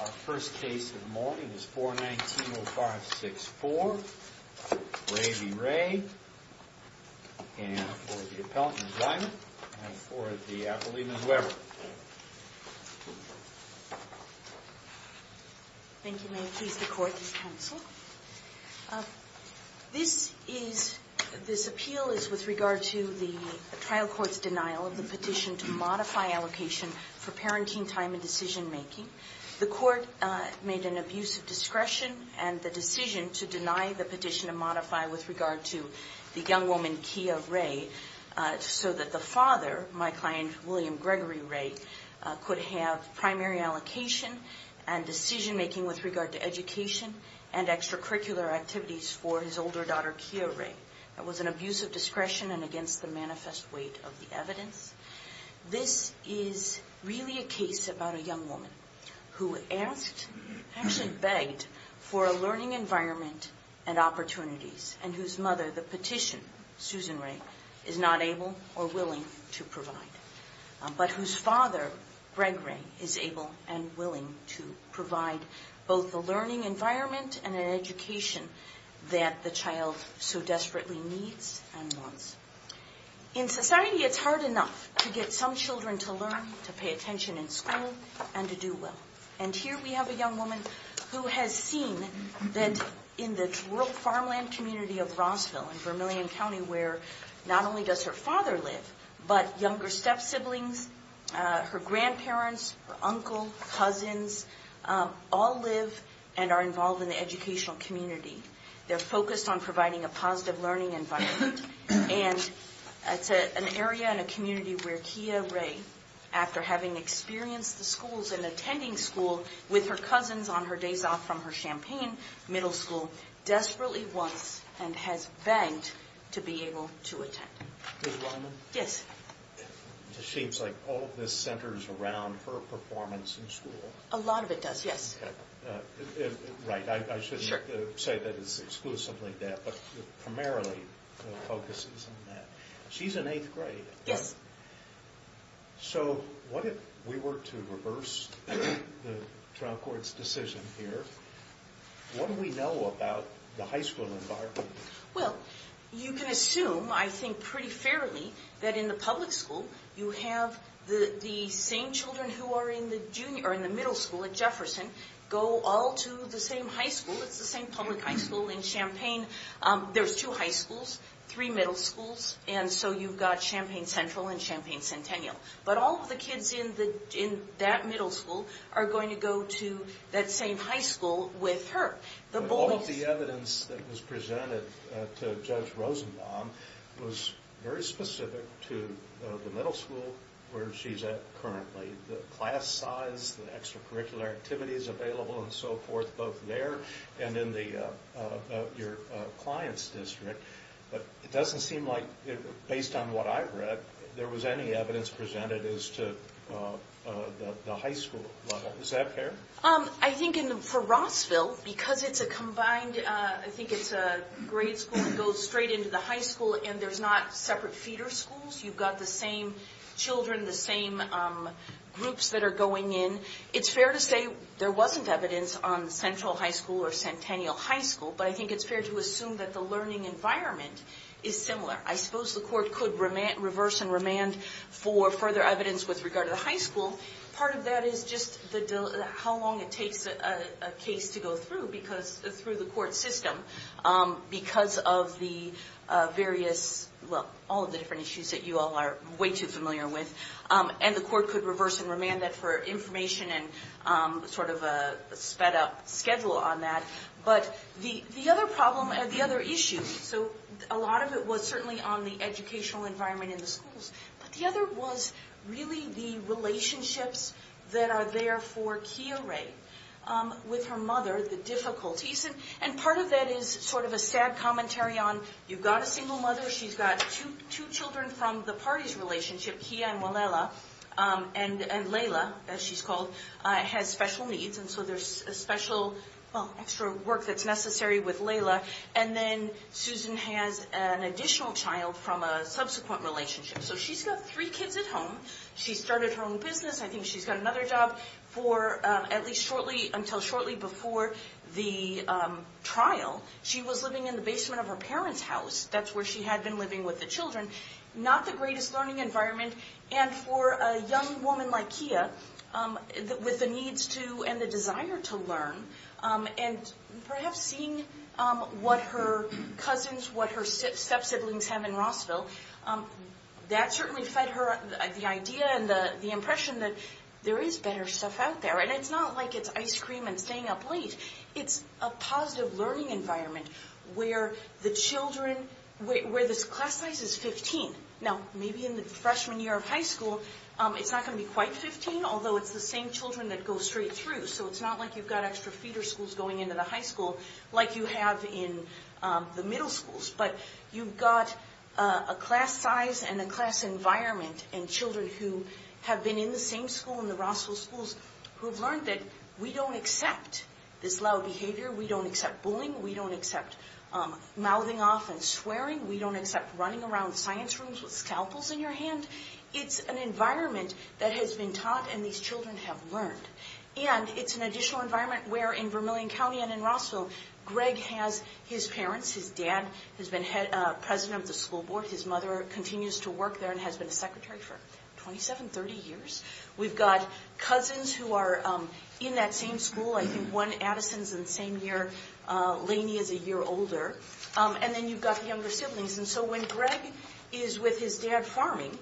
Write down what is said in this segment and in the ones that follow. Our first case of the morning is 419-0564. Ray v. Ray, and for the appellant, Ms. Diamond, and for the appellee, Ms. Weber. Thank you, Mayor Keith. The Court is counseled. This appeal is with regard to the trial court's denial of the petition to modify allocation for parenting time and decision making. The Court made an abuse of discretion and the decision to deny the petition to modify with regard to the young woman, Kia Ray, so that the father, my client, William Gregory Ray, could have primary allocation and decision making with regard to education and extracurricular activities for his older daughter, Kia Ray. That was an abuse of discretion and against the manifest weight of the evidence. This is really a case about a young woman who asked, actually begged, for a learning environment and opportunities, and whose mother, the petition, Susan Ray, is not able or willing to provide, but whose father, Greg Ray, is able and willing to provide both a learning environment and an education that the child so desperately needs and wants. In society, it's hard enough to get some children to learn, to pay attention in school, and to do well. And here we have a young woman who has seen that in the rural farmland community of Rossville in Vermillion County, where not only does her father live, but younger step siblings, her grandparents, her uncle, cousins, all live and are involved in the educational community. They're focused on providing a positive learning environment. And it's an area and a community where Kia Ray, after having experienced the schools and attending school with her It seems like all of this centers around her performance in school. A lot of it does, yes. Right, I shouldn't say that it's exclusively that, but primarily focuses on that. She's in eighth grade. Yes. So, what if we were to reverse the trial court's decision here? What do we know about the high school environment? Well, you can assume, I think pretty fairly, that in the public school, you have the same children who are in the middle school at Jefferson go all to the same high school. It's the same public high school in Champaign. There's two high schools, three middle schools, and so you've got Champaign Central and Champaign Centennial. But all of the kids in that middle school are going to go to that same high school with her. But all of the evidence that was presented to Judge Rosenbaum was very specific to the middle school where she's at currently. The class size, the extracurricular activities available and so forth, both there and in your client's district. But it doesn't seem like, based on what I've read, there was any evidence presented as to the high school level. Is that fair? I think for Rossville, because it's a combined, I think it's a grade school that goes straight into the high school and there's not separate feeder schools. You've got the same children, the same groups that are going in. It's fair to say there wasn't evidence on Central High School or Centennial High School, but I think it's fair to assume that the case to go through, through the court system, because of the various, well, all of the different issues that you all are way too familiar with. And the court could reverse and remand that for information and sort of a sped up schedule on that. But the other problem, the other issue, so a lot of it was certainly on the educational environment in the schools, but the other was really the relationships that are there for Kia-Rae with her mother, the difficulties. And part of that is sort of a sad commentary on, you've got a single mother, she's got two children from the parties relationship, Kia and Walela, and Layla, as she's called, has special needs and so there's a special, well, extra work that's necessary with Layla. And then she has three kids at home. She started her own business. I think she's got another job for at least shortly, until shortly before the trial. She was living in the basement of her parents' house. That's where she had been living with the children. Not the greatest learning environment. And for a young woman like Kia, with the needs to and the desire to learn, and perhaps seeing what her cousins, what her step-siblings have in Rossville, that certainly fed her the idea and the impression that there is better stuff out there. And it's not like it's ice cream and staying up late. It's a positive learning environment where the children, where the class size is 15. Now, maybe in the freshman year of high school, it's not going to be quite 15, although it's the same children that go straight through. So it's not like you've got extra feeder schools going into the high school like you have in the middle schools. But you've got a class size and a class environment and children who have been in the same school, in the Rossville schools, who have learned that we don't accept this loud behavior. We don't accept bullying. We don't accept mouthing off and swearing. We don't accept running around science rooms with scalpels in your hand. It's an environment that has been taught and these children have learned. And it's an additional environment where in Vermilion County and in Rossville, Greg has his parents. His dad has been president of the school board. His mother continues to work there and has been a secretary for 27, 30 years. We've got cousins who are in that same school. I think one, Addison, is in the same year. Laney is a year older. And then you've got younger siblings. And so when Greg is with his dad farming,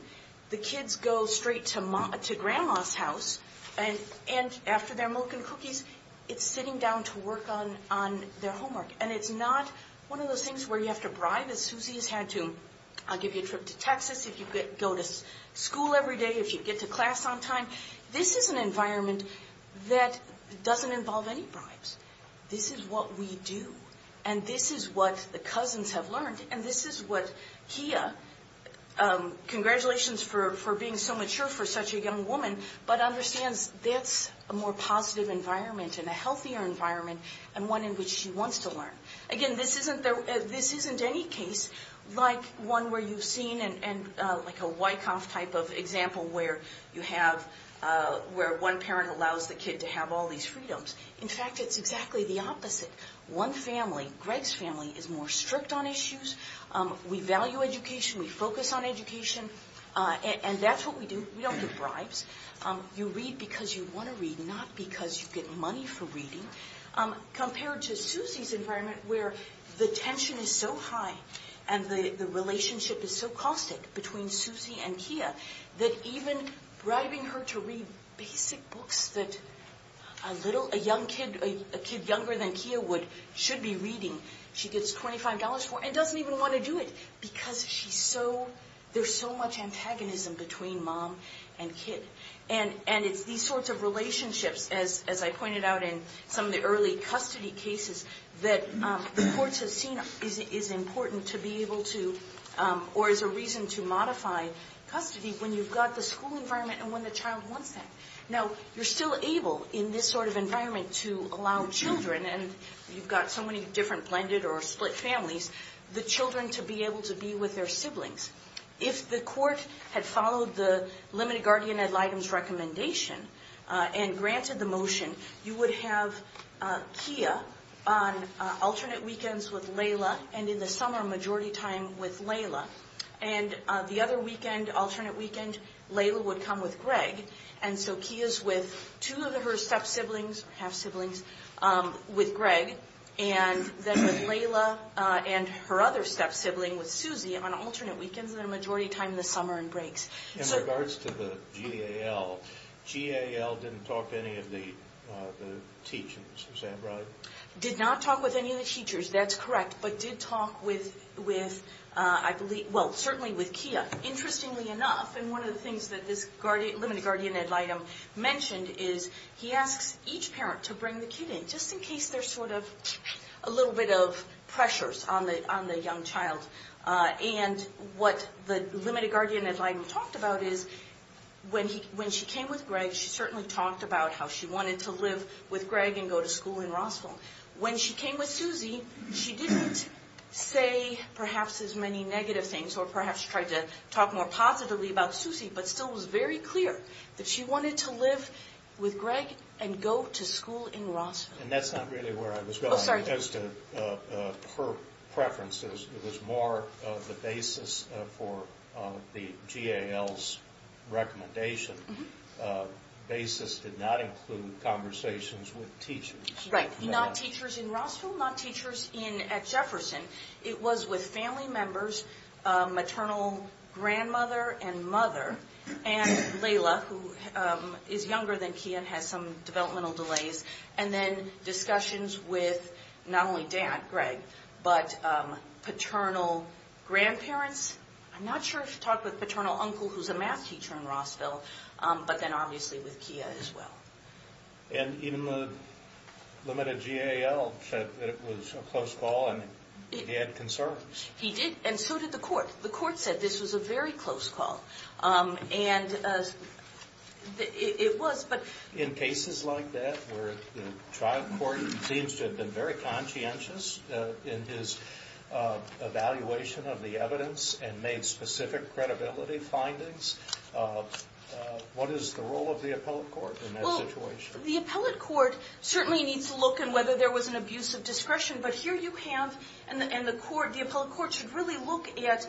the kids go straight to grandma's house and after their milk and cookies, it's sitting down to work on their homework. And it's not one of those things where you have to bribe, as Susie has had to. I'll give you a trip to Texas if you go to school every day, if you get to class on time. This is an environment that doesn't involve any bribes. This is what we do. And this is what the cousins have learned. And this is what Kia, congratulations for being so mature for such a young woman, but understands that's a more positive environment and a healthier environment and one in which she wants to learn. Again, this isn't any case like one where you've seen, like a Wyckoff type of example where you have, where one parent allows the kid to have all these freedoms. In fact, it's exactly the opposite. One family, Greg's family, is more strict on issues. We value education. We focus on education. And that's what we do. We don't get bribes. You read because you want to read, not because you get money for reading. Compared to Susie's environment where the tension is so high and the relationship is so caustic between Susie and Kia that even bribing her to read basic books that a little, a young kid, a kid younger than Kia would, should be reading, she gets $25 for and doesn't even want to do it because she's so, there's so much antagonism between mom and kid. And it's these sorts of relationships, as I pointed out in some of the early custody cases, that the courts have seen is important to be able to, or is a reason to modify custody when you've got the school environment and when the child wants that. Now, you're still able in this sort of environment to allow children, and you've got so many different blended or split families, the children to be able to be with their siblings. If the court had followed the limited guardian ad litem's recommendation and granted the motion, you would have Kia on alternate weekends with Layla and in the summer majority time with Layla. And the other weekend, alternate weekend, Layla would come with Greg, and so Kia's with two of her step siblings, half siblings, with Greg, and then with Layla and her other step sibling with Susie on alternate weekends in the majority time in the summer and breaks. In regards to the GAL, GAL didn't talk to any of the teachers, is that right? Did not talk with any of the teachers, that's correct, but did talk with, I believe, well, certainly with Kia. Interestingly enough, and one of the things that this limited guardian ad litem mentioned is he asks each parent to bring the kid in, just in case there's sort of a little bit of pressures on the young child. And what the limited guardian ad litem talked about is when she came with Greg, she certainly talked about how she wanted to live with Greg and go to school in Rossville. When she came with Susie, she didn't say perhaps as many negative things or perhaps tried to talk more positively about Susie, but still was very clear that she wanted to live with Greg and go to school in Rossville. And that's not really where I was going as to her preferences, it was more of the basis for the GAL's recommendation. Basis did not include conversations with teachers. Right, not teachers in Rossville, not teachers at Jefferson. It was with family members, maternal grandmother and mother, and Layla, who is younger than Kia and has some developmental delays, and then discussions with not only dad, Greg, but paternal grandparents. I'm not sure if she talked with paternal uncle, who's a math teacher in Rossville, but then obviously with Kia as well. And even the limited GAL said that it was a close call and he had concerns. He did, and so did the court. The court said this was a very close call. In cases like that where the trial court seems to have been very conscientious in his evaluation of the evidence and made specific credibility findings, what is the role of the appellate court? The appellate court certainly needs to look at whether there was an abuse of discretion. But here you have, and the appellate court should really look at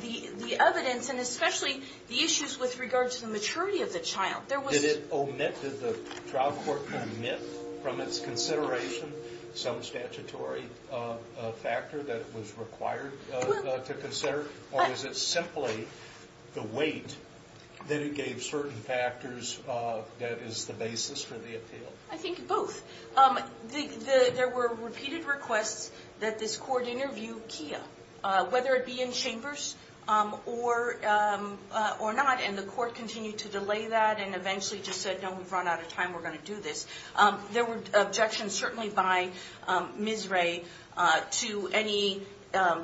the evidence and especially the issues with regard to the maturity of the child. Did the trial court omit from its consideration some statutory factor that was required to consider? Or is it simply the weight that it gave certain factors that is the basis for the appeal? I think both. There were repeated requests that this court interview Kia, whether it be in chambers or not. And the court continued to delay that and eventually just said, no, we've run out of time. We're going to do this. There were objections certainly by Ms. Ray to any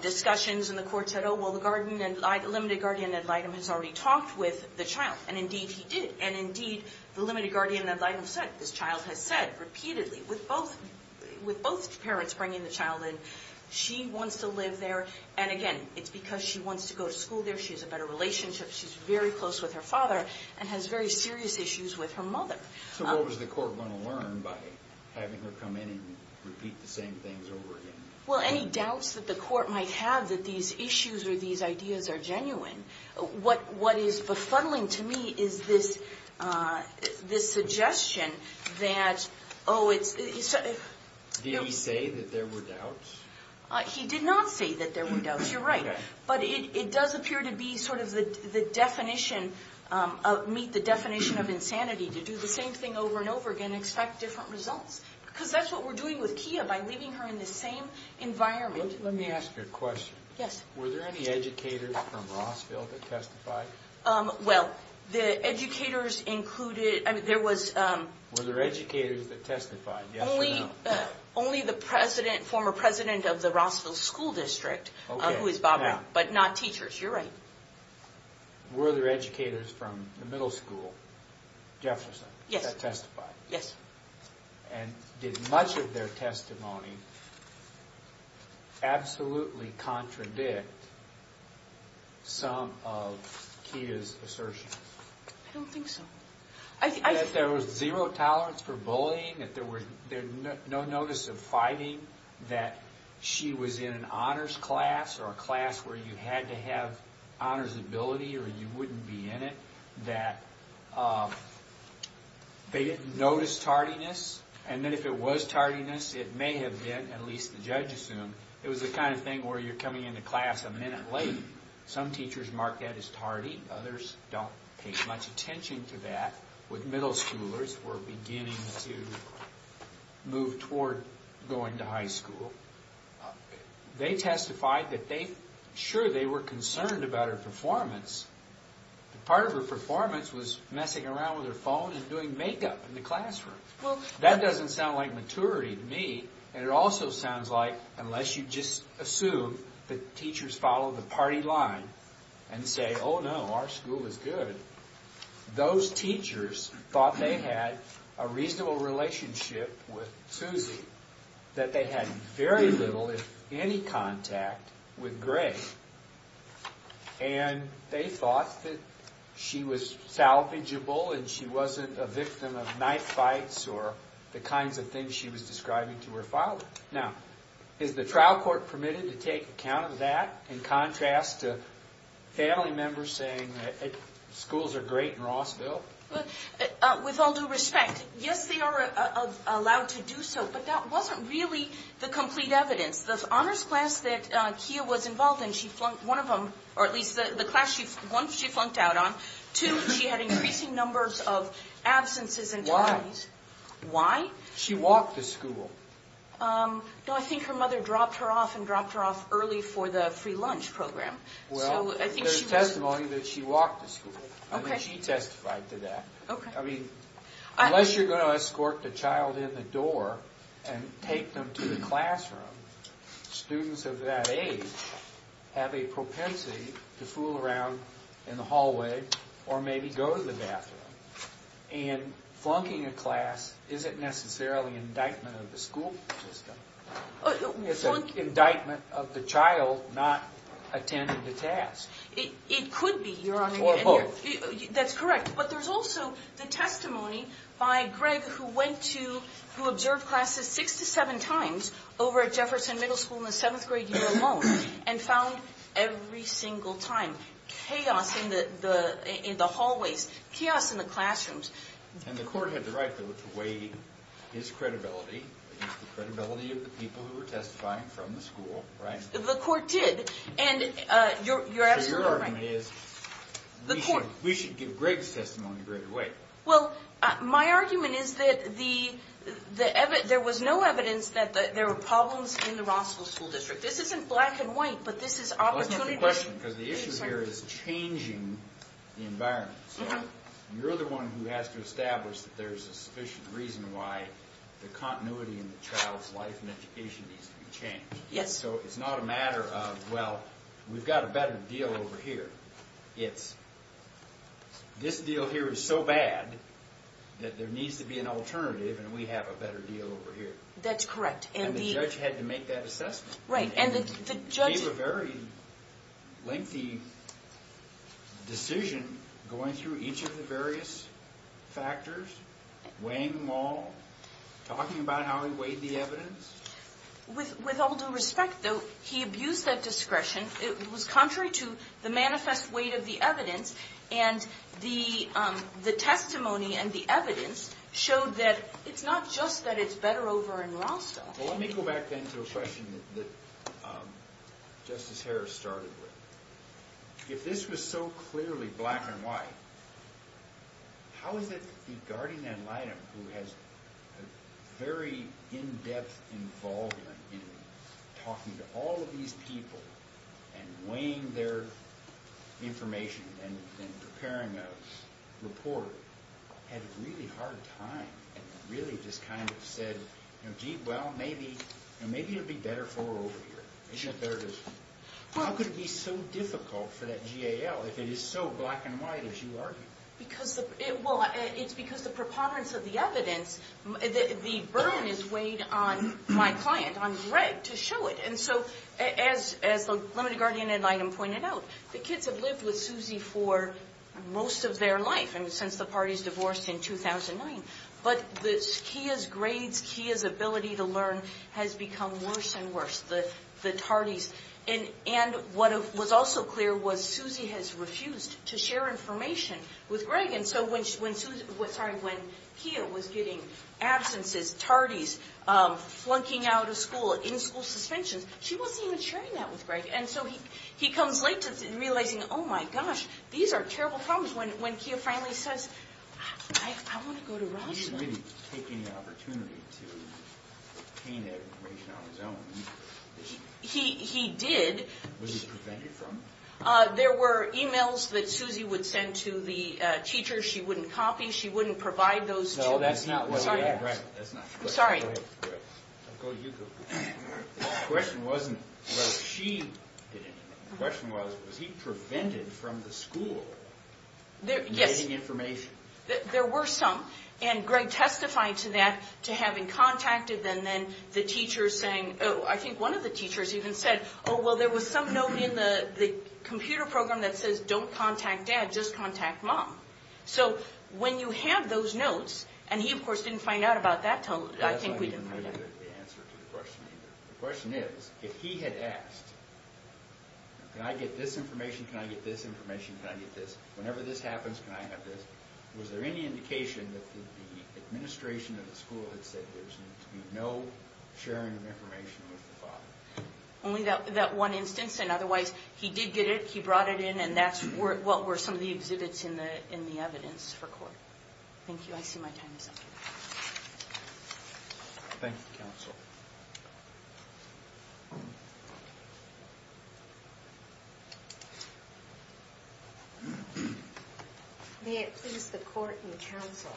discussions in the court. Well, the limited guardian ad litem has already talked with the child. And indeed he did. And indeed, the limited guardian ad litem said this child has said repeatedly with both parents bringing the child in, she wants to live there. And again, it's because she wants to go to school there. She has a better relationship. She's very close with her father and has very serious issues with her mother. So what was the court going to learn by having her come in and repeat the same things over again? Well, any doubts that the court might have that these issues or these ideas are genuine. What is befuddling to me is this suggestion that, oh, it's. Did he say that there were doubts? He did not say that there were doubts. You're right. But it does appear to be sort of the definition, meet the definition of insanity to do the same thing over and over again and expect different results. Because that's what we're doing with Kia by leaving her in the same environment. Let me ask you a question. Yes. Were there any educators from Rossville that testified? Well, the educators included, I mean, there was. Were there educators that testified, yes or no? Only the president, former president of the Rossville School District, who is Bob Brown, but not teachers. You're right. Were there educators from the middle school, Jefferson, that testified? Yes. And did much of their testimony absolutely contradict some of Kia's assertions? I don't think so. That there was zero tolerance for bullying, that there was no notice of fighting, that she was in an honors class or a class where you had to have honors ability or you wouldn't be in it, that they didn't notice tardiness. And then if it was tardiness, it may have been, at least the judge assumed, it was the kind of thing where you're coming into class a minute late. Some teachers mark that as tardy. Others don't pay much attention to that. With middle schoolers, we're beginning to move toward going to high school. They testified that they, sure, they were concerned about her performance, but part of her performance was messing around with her phone and doing makeup in the classroom. That doesn't sound like maturity to me. And it also sounds like, unless you just assume that teachers follow the party line and say, oh, no, our school is good, those teachers thought they had a reasonable relationship with Suzy, that they had very little, if any, contact with Greg. And they thought that she was salvageable and she wasn't a victim of knife fights or the kinds of things she was describing to her father. Now, is the trial court permitted to take account of that in contrast to family members saying that schools are great in Rossville? With all due respect, yes, they are allowed to do so, but that wasn't really the complete evidence. The honors class that Kia was involved in, she flunked one of them, or at least the class, one she flunked out on. Two, she had increasing numbers of absences and tardies. Why? Why? She walked to school. No, I think her mother dropped her off and dropped her off early for the free lunch program. Well, there's testimony that she walked to school. Okay. She testified to that. Okay. Unless you're going to escort the child in the door and take them to the classroom, students of that age have a propensity to fool around in the hallway or maybe go to the bathroom. And flunking a class isn't necessarily an indictment of the school system. It's an indictment of the child not attending the task. It could be. Or both. That's correct. But there's also the testimony by Greg who went to, who observed classes six to seven times over at Jefferson Middle School in the seventh grade year alone and found every single time chaos in the hallways, chaos in the classrooms. And the court had the right, though, to weigh his credibility against the credibility of the people who were testifying from the school, right? The court did. And you're absolutely right. We should give Greg's testimony a greater weight. Well, my argument is that there was no evidence that there were problems in the Rossville School District. This isn't black and white, but this is opportunity. Well, that's not the question because the issue here is changing the environment. So you're the one who has to establish that there's a sufficient reason why the continuity in the child's life and education needs to be changed. Yes. So it's not a matter of, well, we've got a better deal over here. It's this deal here is so bad that there needs to be an alternative and we have a better deal over here. That's correct. And the judge had to make that assessment. Right. And the judge gave a very lengthy decision going through each of the various factors, weighing them all, talking about how he weighed the evidence. With all due respect, though, he abused that discretion. It was contrary to the manifest weight of the evidence. And the testimony and the evidence showed that it's not just that it's better over in Rossville. Well, let me go back then to a question that Justice Harris started with. If this was so clearly black and white, how is it that the guardian ad litem, who has a very in-depth involvement in talking to all of these people and weighing their information and preparing a report, had a really hard time and really just kind of said, gee, well, maybe it would be better for her over here. How could it be so difficult for that GAL if it is so black and white as you argue? Well, it's because the preponderance of the evidence, the burden is weighed on my client, on Greg, to show it. And so as the limited guardian ad litem pointed out, the kids have lived with Susie for most of their life, since the parties divorced in 2009. But Kia's grades, Kia's ability to learn has become worse and worse, the tardies. And what was also clear was Susie has refused to share information with Greg. And so when Kia was getting absences, tardies, flunking out of school, in-school suspensions, she wasn't even sharing that with Greg. And so he comes late to realizing, oh, my gosh, these are terrible problems. When Kia finally says, I want to go to Rossville. He didn't really take any opportunity to obtain that information on his own. He did. Was he prevented from? There were e-mails that Susie would send to the teachers. She wouldn't copy. She wouldn't provide those to them. No, that's not correct. I'm sorry. Go ahead. I'll go to you. The question wasn't whether she did it or not. The question was, was he prevented from the school getting information? Yes. There were some. And Greg testified to that, to having contacted them. I think one of the teachers even said, oh, well, there was some note in the computer program that says, don't contact dad, just contact mom. So when you have those notes, and he, of course, didn't find out about that until I think we did. That's not even really the answer to the question either. The question is, if he had asked, can I get this information? Can I get this information? Can I get this? Whenever this happens, can I have this? Was there any indication that the administration of the school had said there was going to be no sharing of information with the father? Only that one instance. And otherwise, he did get it. He brought it in. And that's what were some of the exhibits in the evidence for court. Thank you. I see my time is up. Thank you, counsel. May it please the court and counsel.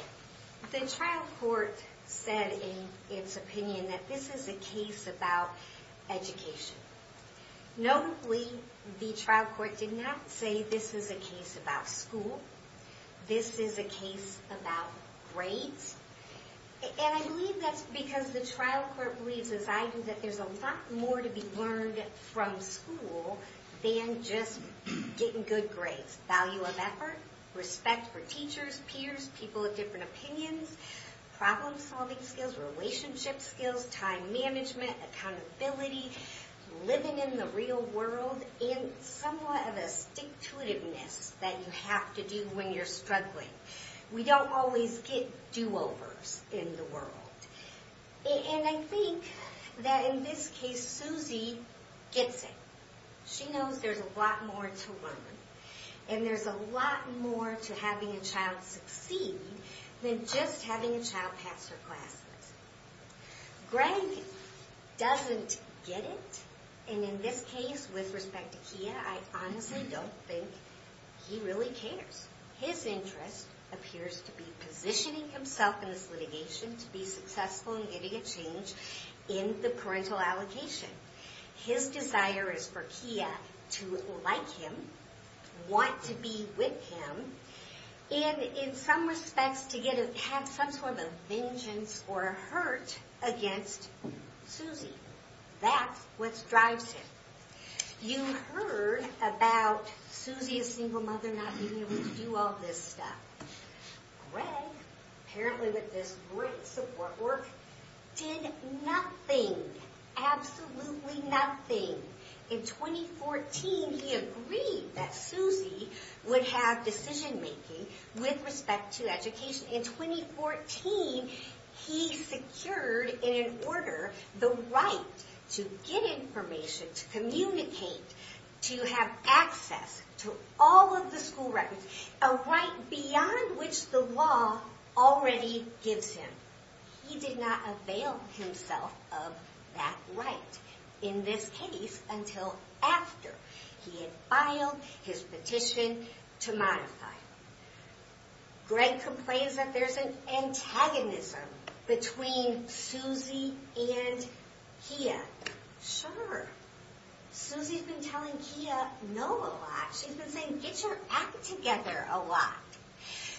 The trial court said in its opinion that this is a case about education. Notably, the trial court did not say this is a case about school. This is a case about grades. And I believe that's because the trial court believes, as I do, that there's a lot more to be learned from school than just getting good grades. Value of effort, respect for teachers, peers, people with different opinions, problem-solving skills, relationship skills, time management, accountability, living in the real world, and somewhat of a stick-to-it-iveness that you have to do when you're struggling. We don't always get do-overs in the world. And I think that in this case, Suzy gets it. She knows there's a lot more to learn. And there's a lot more to having a child succeed than just having a child pass her classes. Greg doesn't get it. And in this case, with respect to Kia, I honestly don't think he really cares. His interest appears to be positioning himself in this litigation to be successful in getting a change in the parental allocation. His desire is for Kia to like him, want to be with him, and in some respects to have some sort of vengeance or hurt against Suzy. That's what drives him. You heard about Suzy's single mother not being able to do all this stuff. Greg, apparently with this great support work, did nothing. Absolutely nothing. In 2014, he agreed that Suzy would have decision-making with respect to education. In 2014, he secured in an order the right to get information, to communicate, to have access to all of the school records. A right beyond which the law already gives him. He did not avail himself of that right. In this case, until after he had filed his petition to modify it. Greg complains that there's an antagonism between Suzy and Kia. Sure. Suzy's been telling Kia no a lot. She's been saying, get your act together a lot.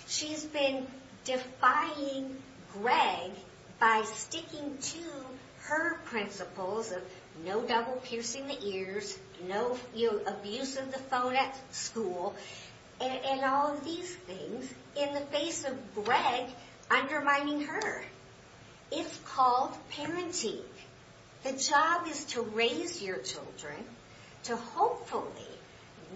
She's been defying Greg by sticking to her principles of no double-piercing the ears, no abuse of the phone at school, and all of these things in the face of Greg undermining her. It's called parenting. The job is to raise your children, to hopefully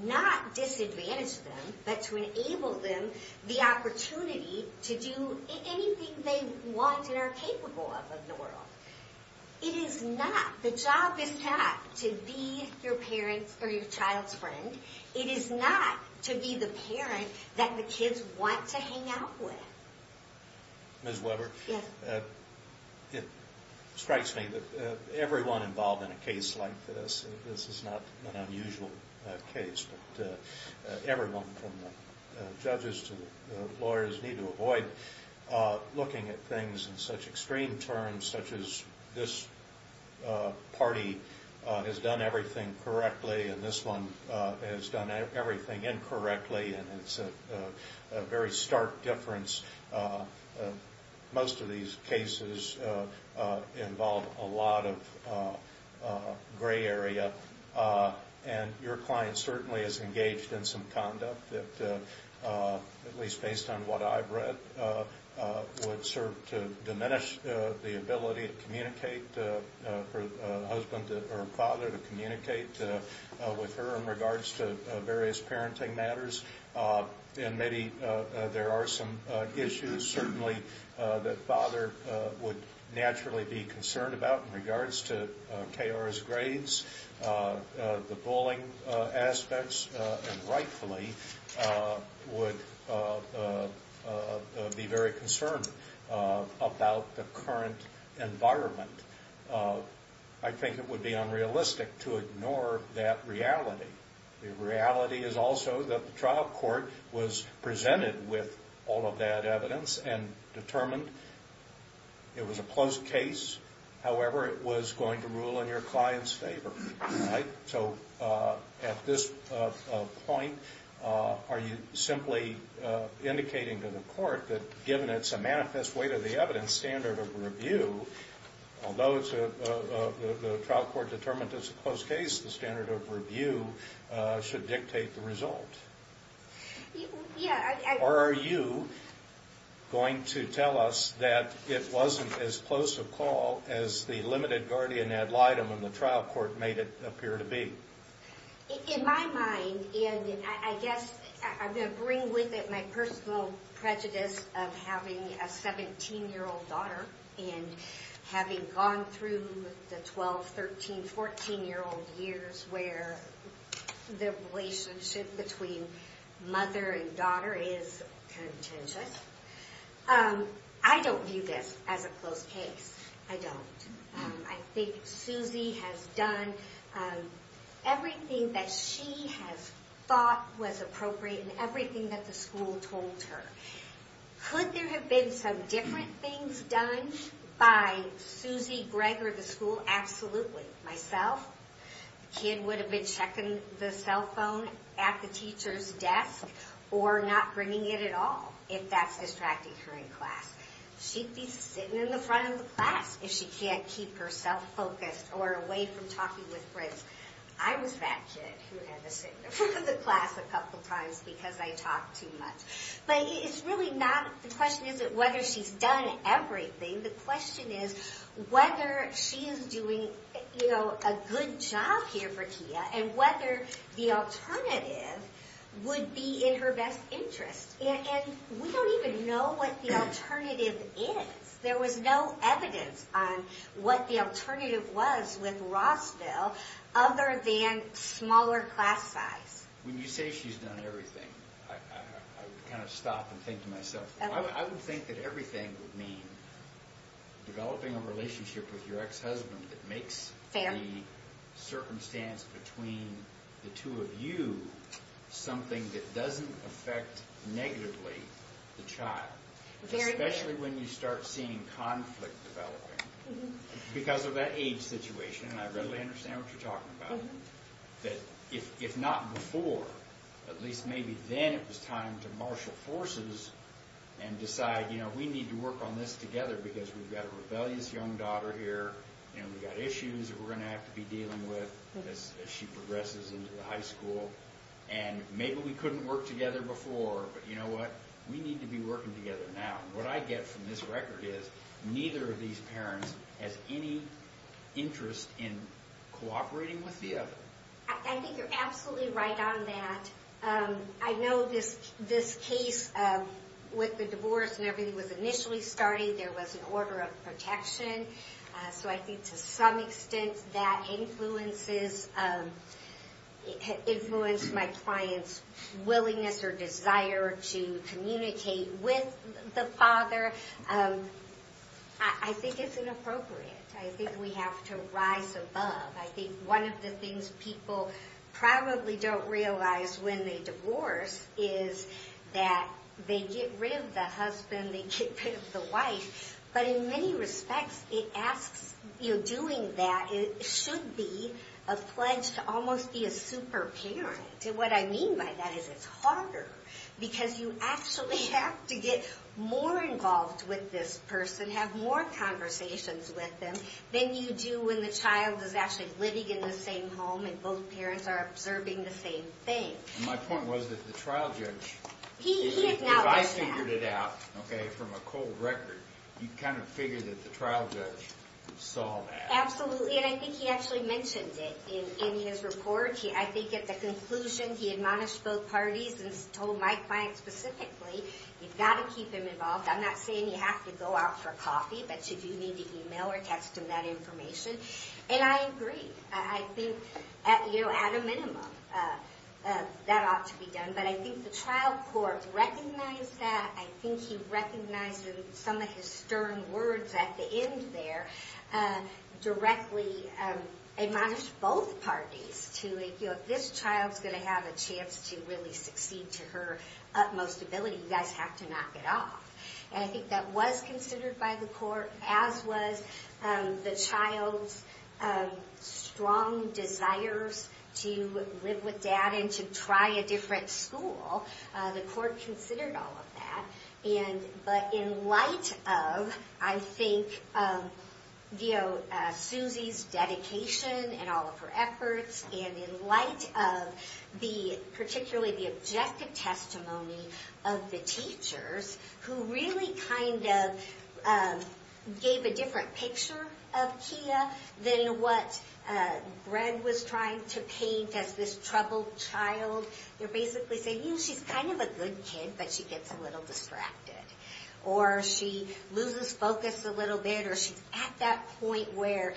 not disadvantage them, but to enable them the opportunity to do anything they want and are capable of in the world. The job is not to be your child's friend. It is not to be the parent that the kids want to hang out with. Ms. Weber? Yes. It strikes me that everyone involved in a case like this, this is not an unusual case, but everyone from the judges to the lawyers need to avoid looking at things in such extreme terms, such as this party has done everything correctly and this one has done everything incorrectly, and it's a very stark difference. Most of these cases involve a lot of gray area. Your client certainly is engaged in some conduct that, at least based on what I've read, would serve to diminish the ability to communicate, for the father to communicate with her in regards to various parenting matters. And maybe there are some issues, certainly, that father would naturally be concerned about in regards to KR's grades, the bullying aspects, and rightfully would be very concerned about the current environment. I think it would be unrealistic to ignore that reality. The reality is also that the trial court was presented with all of that evidence and determined it was a close case. However, it was going to rule in your client's favor, right? So, at this point, are you simply indicating to the court that given it's a manifest weight of the evidence standard of review, although the trial court determined it's a close case, the standard of review should dictate the result? Or are you going to tell us that it wasn't as close a call as the limited guardian ad litem and the trial court made it appear to be? In my mind, and I guess I'm going to bring with it my personal prejudice of having a 17-year-old daughter and having gone through the 12, 13, 14-year-old years where the relationship between mother and daughter is contentious. I don't view this as a close case. I don't. I think Susie has done everything that she has thought was appropriate and everything that the school told her. Could there have been some different things done by Susie, Greg, or the school? Absolutely. Myself, the kid would have been checking the cell phone at the teacher's desk or not bringing it at all if that's distracting her in class. She'd be sitting in the front of the class if she can't keep herself focused or away from talking with friends. I was that kid who had to sit in the front of the class a couple times because I talked too much. But it's really not the question is whether she's done everything. The question is whether she is doing a good job here for Tia and whether the alternative would be in her best interest. And we don't even know what the alternative is. There was no evidence on what the alternative was with Rossville other than smaller class size. When you say she's done everything, I kind of stop and think to myself, I would think that everything would mean developing a relationship with your ex-husband that makes the circumstance between the two of you something that doesn't affect negatively the child. Especially when you start seeing conflict developing because of that age situation. I really understand what you're talking about. If not before, at least maybe then it was time to marshal forces and decide we need to work on this together because we've got a rebellious young daughter here. We've got issues that we're going to have to be dealing with as she progresses into high school. And maybe we couldn't work together before, but you know what? We need to be working together now. What I get from this record is neither of these parents has any interest in cooperating with the other. I think you're absolutely right on that. I know this case with the divorce and everything was initially starting, there was an order of protection. So I think to some extent that influences my client's willingness or desire to communicate with the father. I think it's inappropriate. I think we have to rise above. I think one of the things people probably don't realize when they divorce is that they get rid of the husband, they get rid of the wife. But in many respects, doing that should be a pledge to almost be a super parent. What I mean by that is it's harder because you actually have to get more involved with this person, have more conversations with them, than you do when the child is actually living in the same home and both parents are observing the same thing. My point was that the trial judge, if I figured it out from a cold record, you kind of figure that the trial judge saw that. Absolutely, and I think he actually mentioned it in his report. I think at the conclusion he admonished both parties and told my client specifically, you've got to keep him involved. I'm not saying you have to go out for coffee, but you do need to email or text him that information. And I agree. I think at a minimum that ought to be done. But I think the trial court recognized that. I think he recognized in some of his stern words at the end there, directly admonished both parties to, if this child is going to have a chance to really succeed to her utmost ability, you guys have to knock it off. And I think that was considered by the court, as was the child's strong desires to live with dad and to try a different school. The court considered all of that. But in light of, I think, Suzy's dedication and all of her efforts, and in light of particularly the objective testimony of the teachers, who really kind of gave a different picture of Kia than what Greg was trying to paint as this troubled child. They're basically saying, you know, she's kind of a good kid, but she gets a little distracted. Or she loses focus a little bit, or she's at that point where,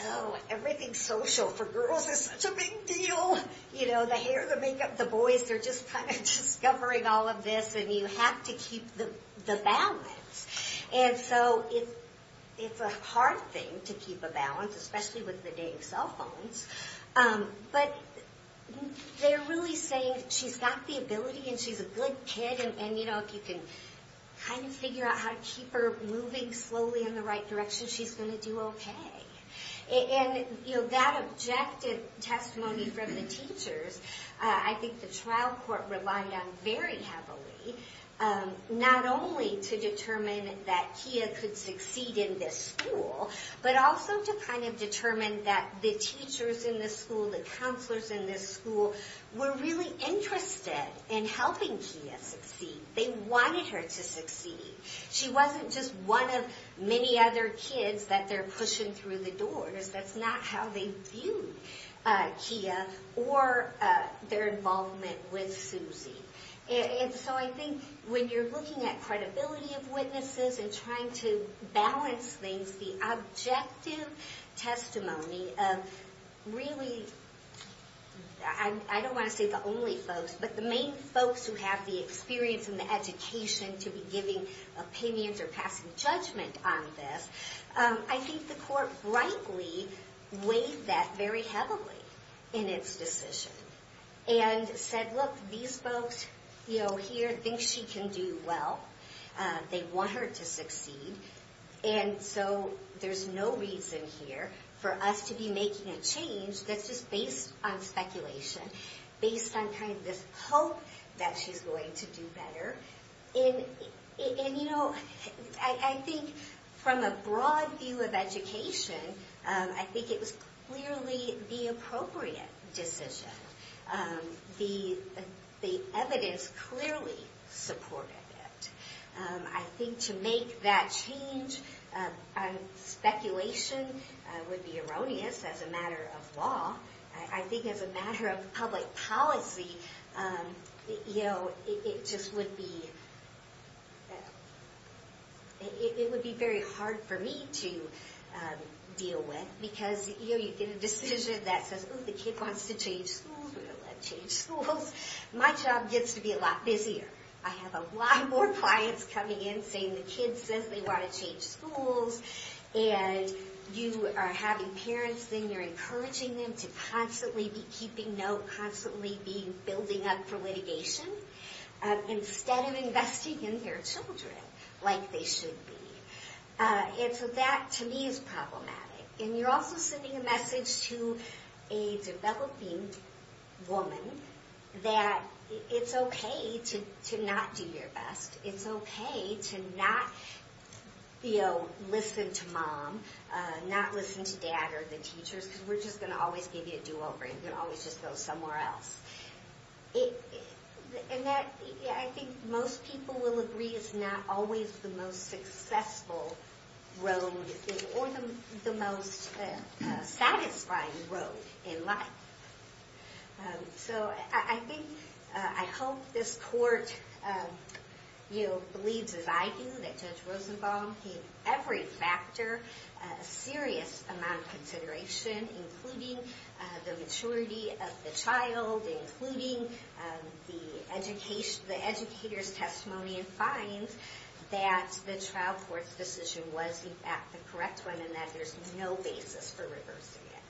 oh, everything's social for girls is such a big deal. You know, the hair, the makeup, the boys, they're just kind of discovering all of this, and you have to keep the balance. And so it's a hard thing to keep a balance, especially with the dang cell phones. But they're really saying she's got the ability, and she's a good kid, and, you know, if you can kind of figure out how to keep her moving slowly in the right direction, she's going to do okay. And, you know, that objective testimony from the teachers, I think the trial court relied on very heavily, not only to determine that Kia could succeed in this school, but also to kind of determine that the teachers in this school, the counselors in this school, were really interested in helping Kia succeed. They wanted her to succeed. She wasn't just one of many other kids that they're pushing through the doors. That's not how they viewed Kia or their involvement with Susie. And so I think when you're looking at credibility of witnesses and trying to balance things, the objective testimony of really, I don't want to say the only folks, but the main folks who have the experience and the education to be giving opinions or passing judgment on this, I think the court rightly weighed that very heavily in its decision, and said, look, these folks here think she can do well. They want her to succeed. And so there's no reason here for us to be making a change that's just based on speculation, based on kind of this hope that she's going to do better. And, you know, I think from a broad view of education, I think it was clearly the appropriate decision. The evidence clearly supported it. I think to make that change on speculation would be erroneous as a matter of law. I think as a matter of public policy, you know, it just would be very hard for me to deal with, because, you know, you get a decision that says, oh, the kid wants to change schools, we're going to let her change schools. My job gets to be a lot busier. I have a lot more clients coming in saying the kid says they want to change schools. And you are having parents, then you're encouraging them to constantly be keeping note, constantly be building up for litigation, instead of investing in their children like they should be. And so that, to me, is problematic. And you're also sending a message to a developing woman that it's okay to not do your best. It's okay to not, you know, listen to mom, not listen to dad or the teachers, because we're just going to always give you a do-over. You're going to always just go somewhere else. And that, I think most people will agree, is not always the most successful road, or the most satisfying road in life. So I think, I hope this court, you know, believes as I do, that Judge Rosenbaum gave every factor a serious amount of consideration, including the maturity of the child, including the educator's testimony, and finds that the trial court's decision was, in fact, the correct one, and that there's no basis for reversing it.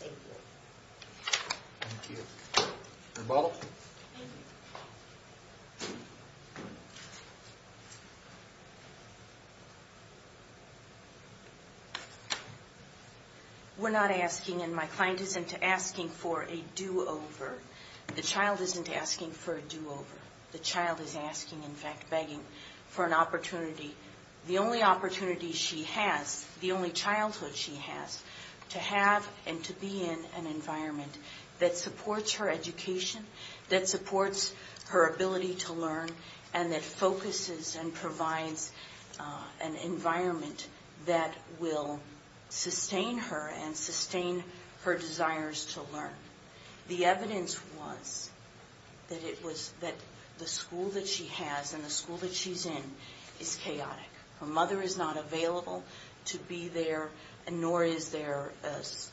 Thank you. Thank you. Your ball. Thank you. We're not asking, and my client isn't asking for a do-over. The child isn't asking for a do-over. The child is asking, in fact, begging for an opportunity. The only opportunity she has, the only childhood she has, to have and to be in an environment that supports her education, that supports her ability to learn, and that focuses and provides an environment that will sustain her and sustain her desires to learn. The evidence was that it was that the school that she has and the school that she's in is chaotic. Her mother is not available to be there, nor is there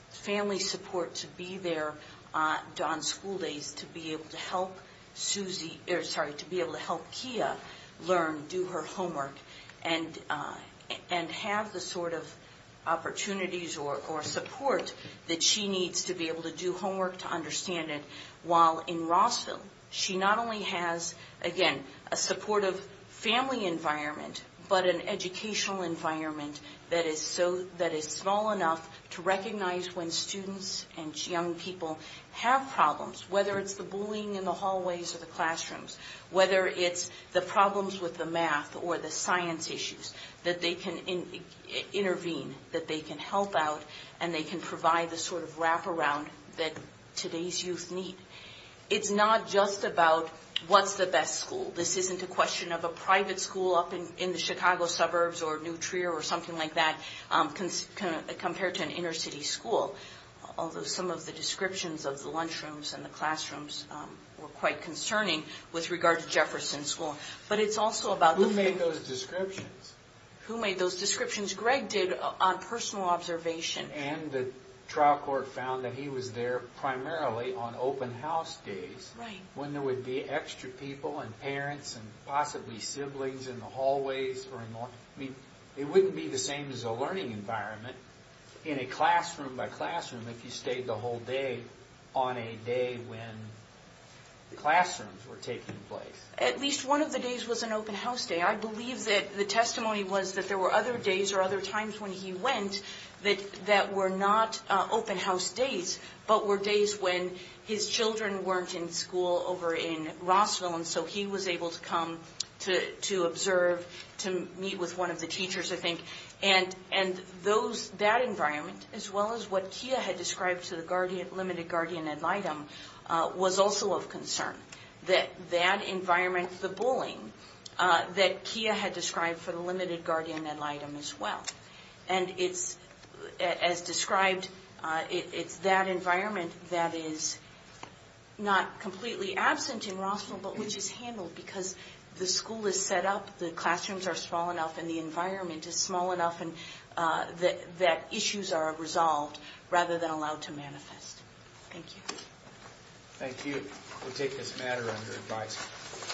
family support to be there on school days to be able to help Suzy, or sorry, to be able to help Kia learn, do her homework, and have the sort of opportunities or support that she needs to be able to do homework to understand it. While in Rossville, she not only has, again, a supportive family environment, but an educational environment that is small enough to recognize when students and young people have problems, whether it's the bullying in the hallways or the classrooms, whether it's the problems with the math or the science issues, that they can intervene, that they can help out, and they can provide the sort of wraparound that today's youth need. It's not just about what's the best school. This isn't a question of a private school up in the Chicago suburbs or Nutria or something like that compared to an inner-city school, although some of the descriptions of the lunchrooms and the classrooms were quite concerning with regard to Jefferson School. But it's also about the... Who made those descriptions? Greg did on personal observation. And the trial court found that he was there primarily on open house days when there would be extra people and parents and possibly siblings in the hallways or in the... I mean, it wouldn't be the same as a learning environment in a classroom-by-classroom if you stayed the whole day on a day when the classrooms were taking place. At least one of the days was an open house day. I believe that the testimony was that there were other days or other times when he went that were not open house days but were days when his children weren't in school over in Rossville, and so he was able to come to observe, to meet with one of the teachers, I think. And that environment, as well as what Kia had described to the limited guardian ad litem, was also of concern, that that environment, the bullying that Kia had described for the limited guardian ad litem as well. And as described, it's that environment that is not completely absent in Rossville but which is handled because the school is set up, the classrooms are small enough, and the environment is small enough that issues are resolved rather than allowed to manifest. Thank you. Thank you. We'll take this matter under advice.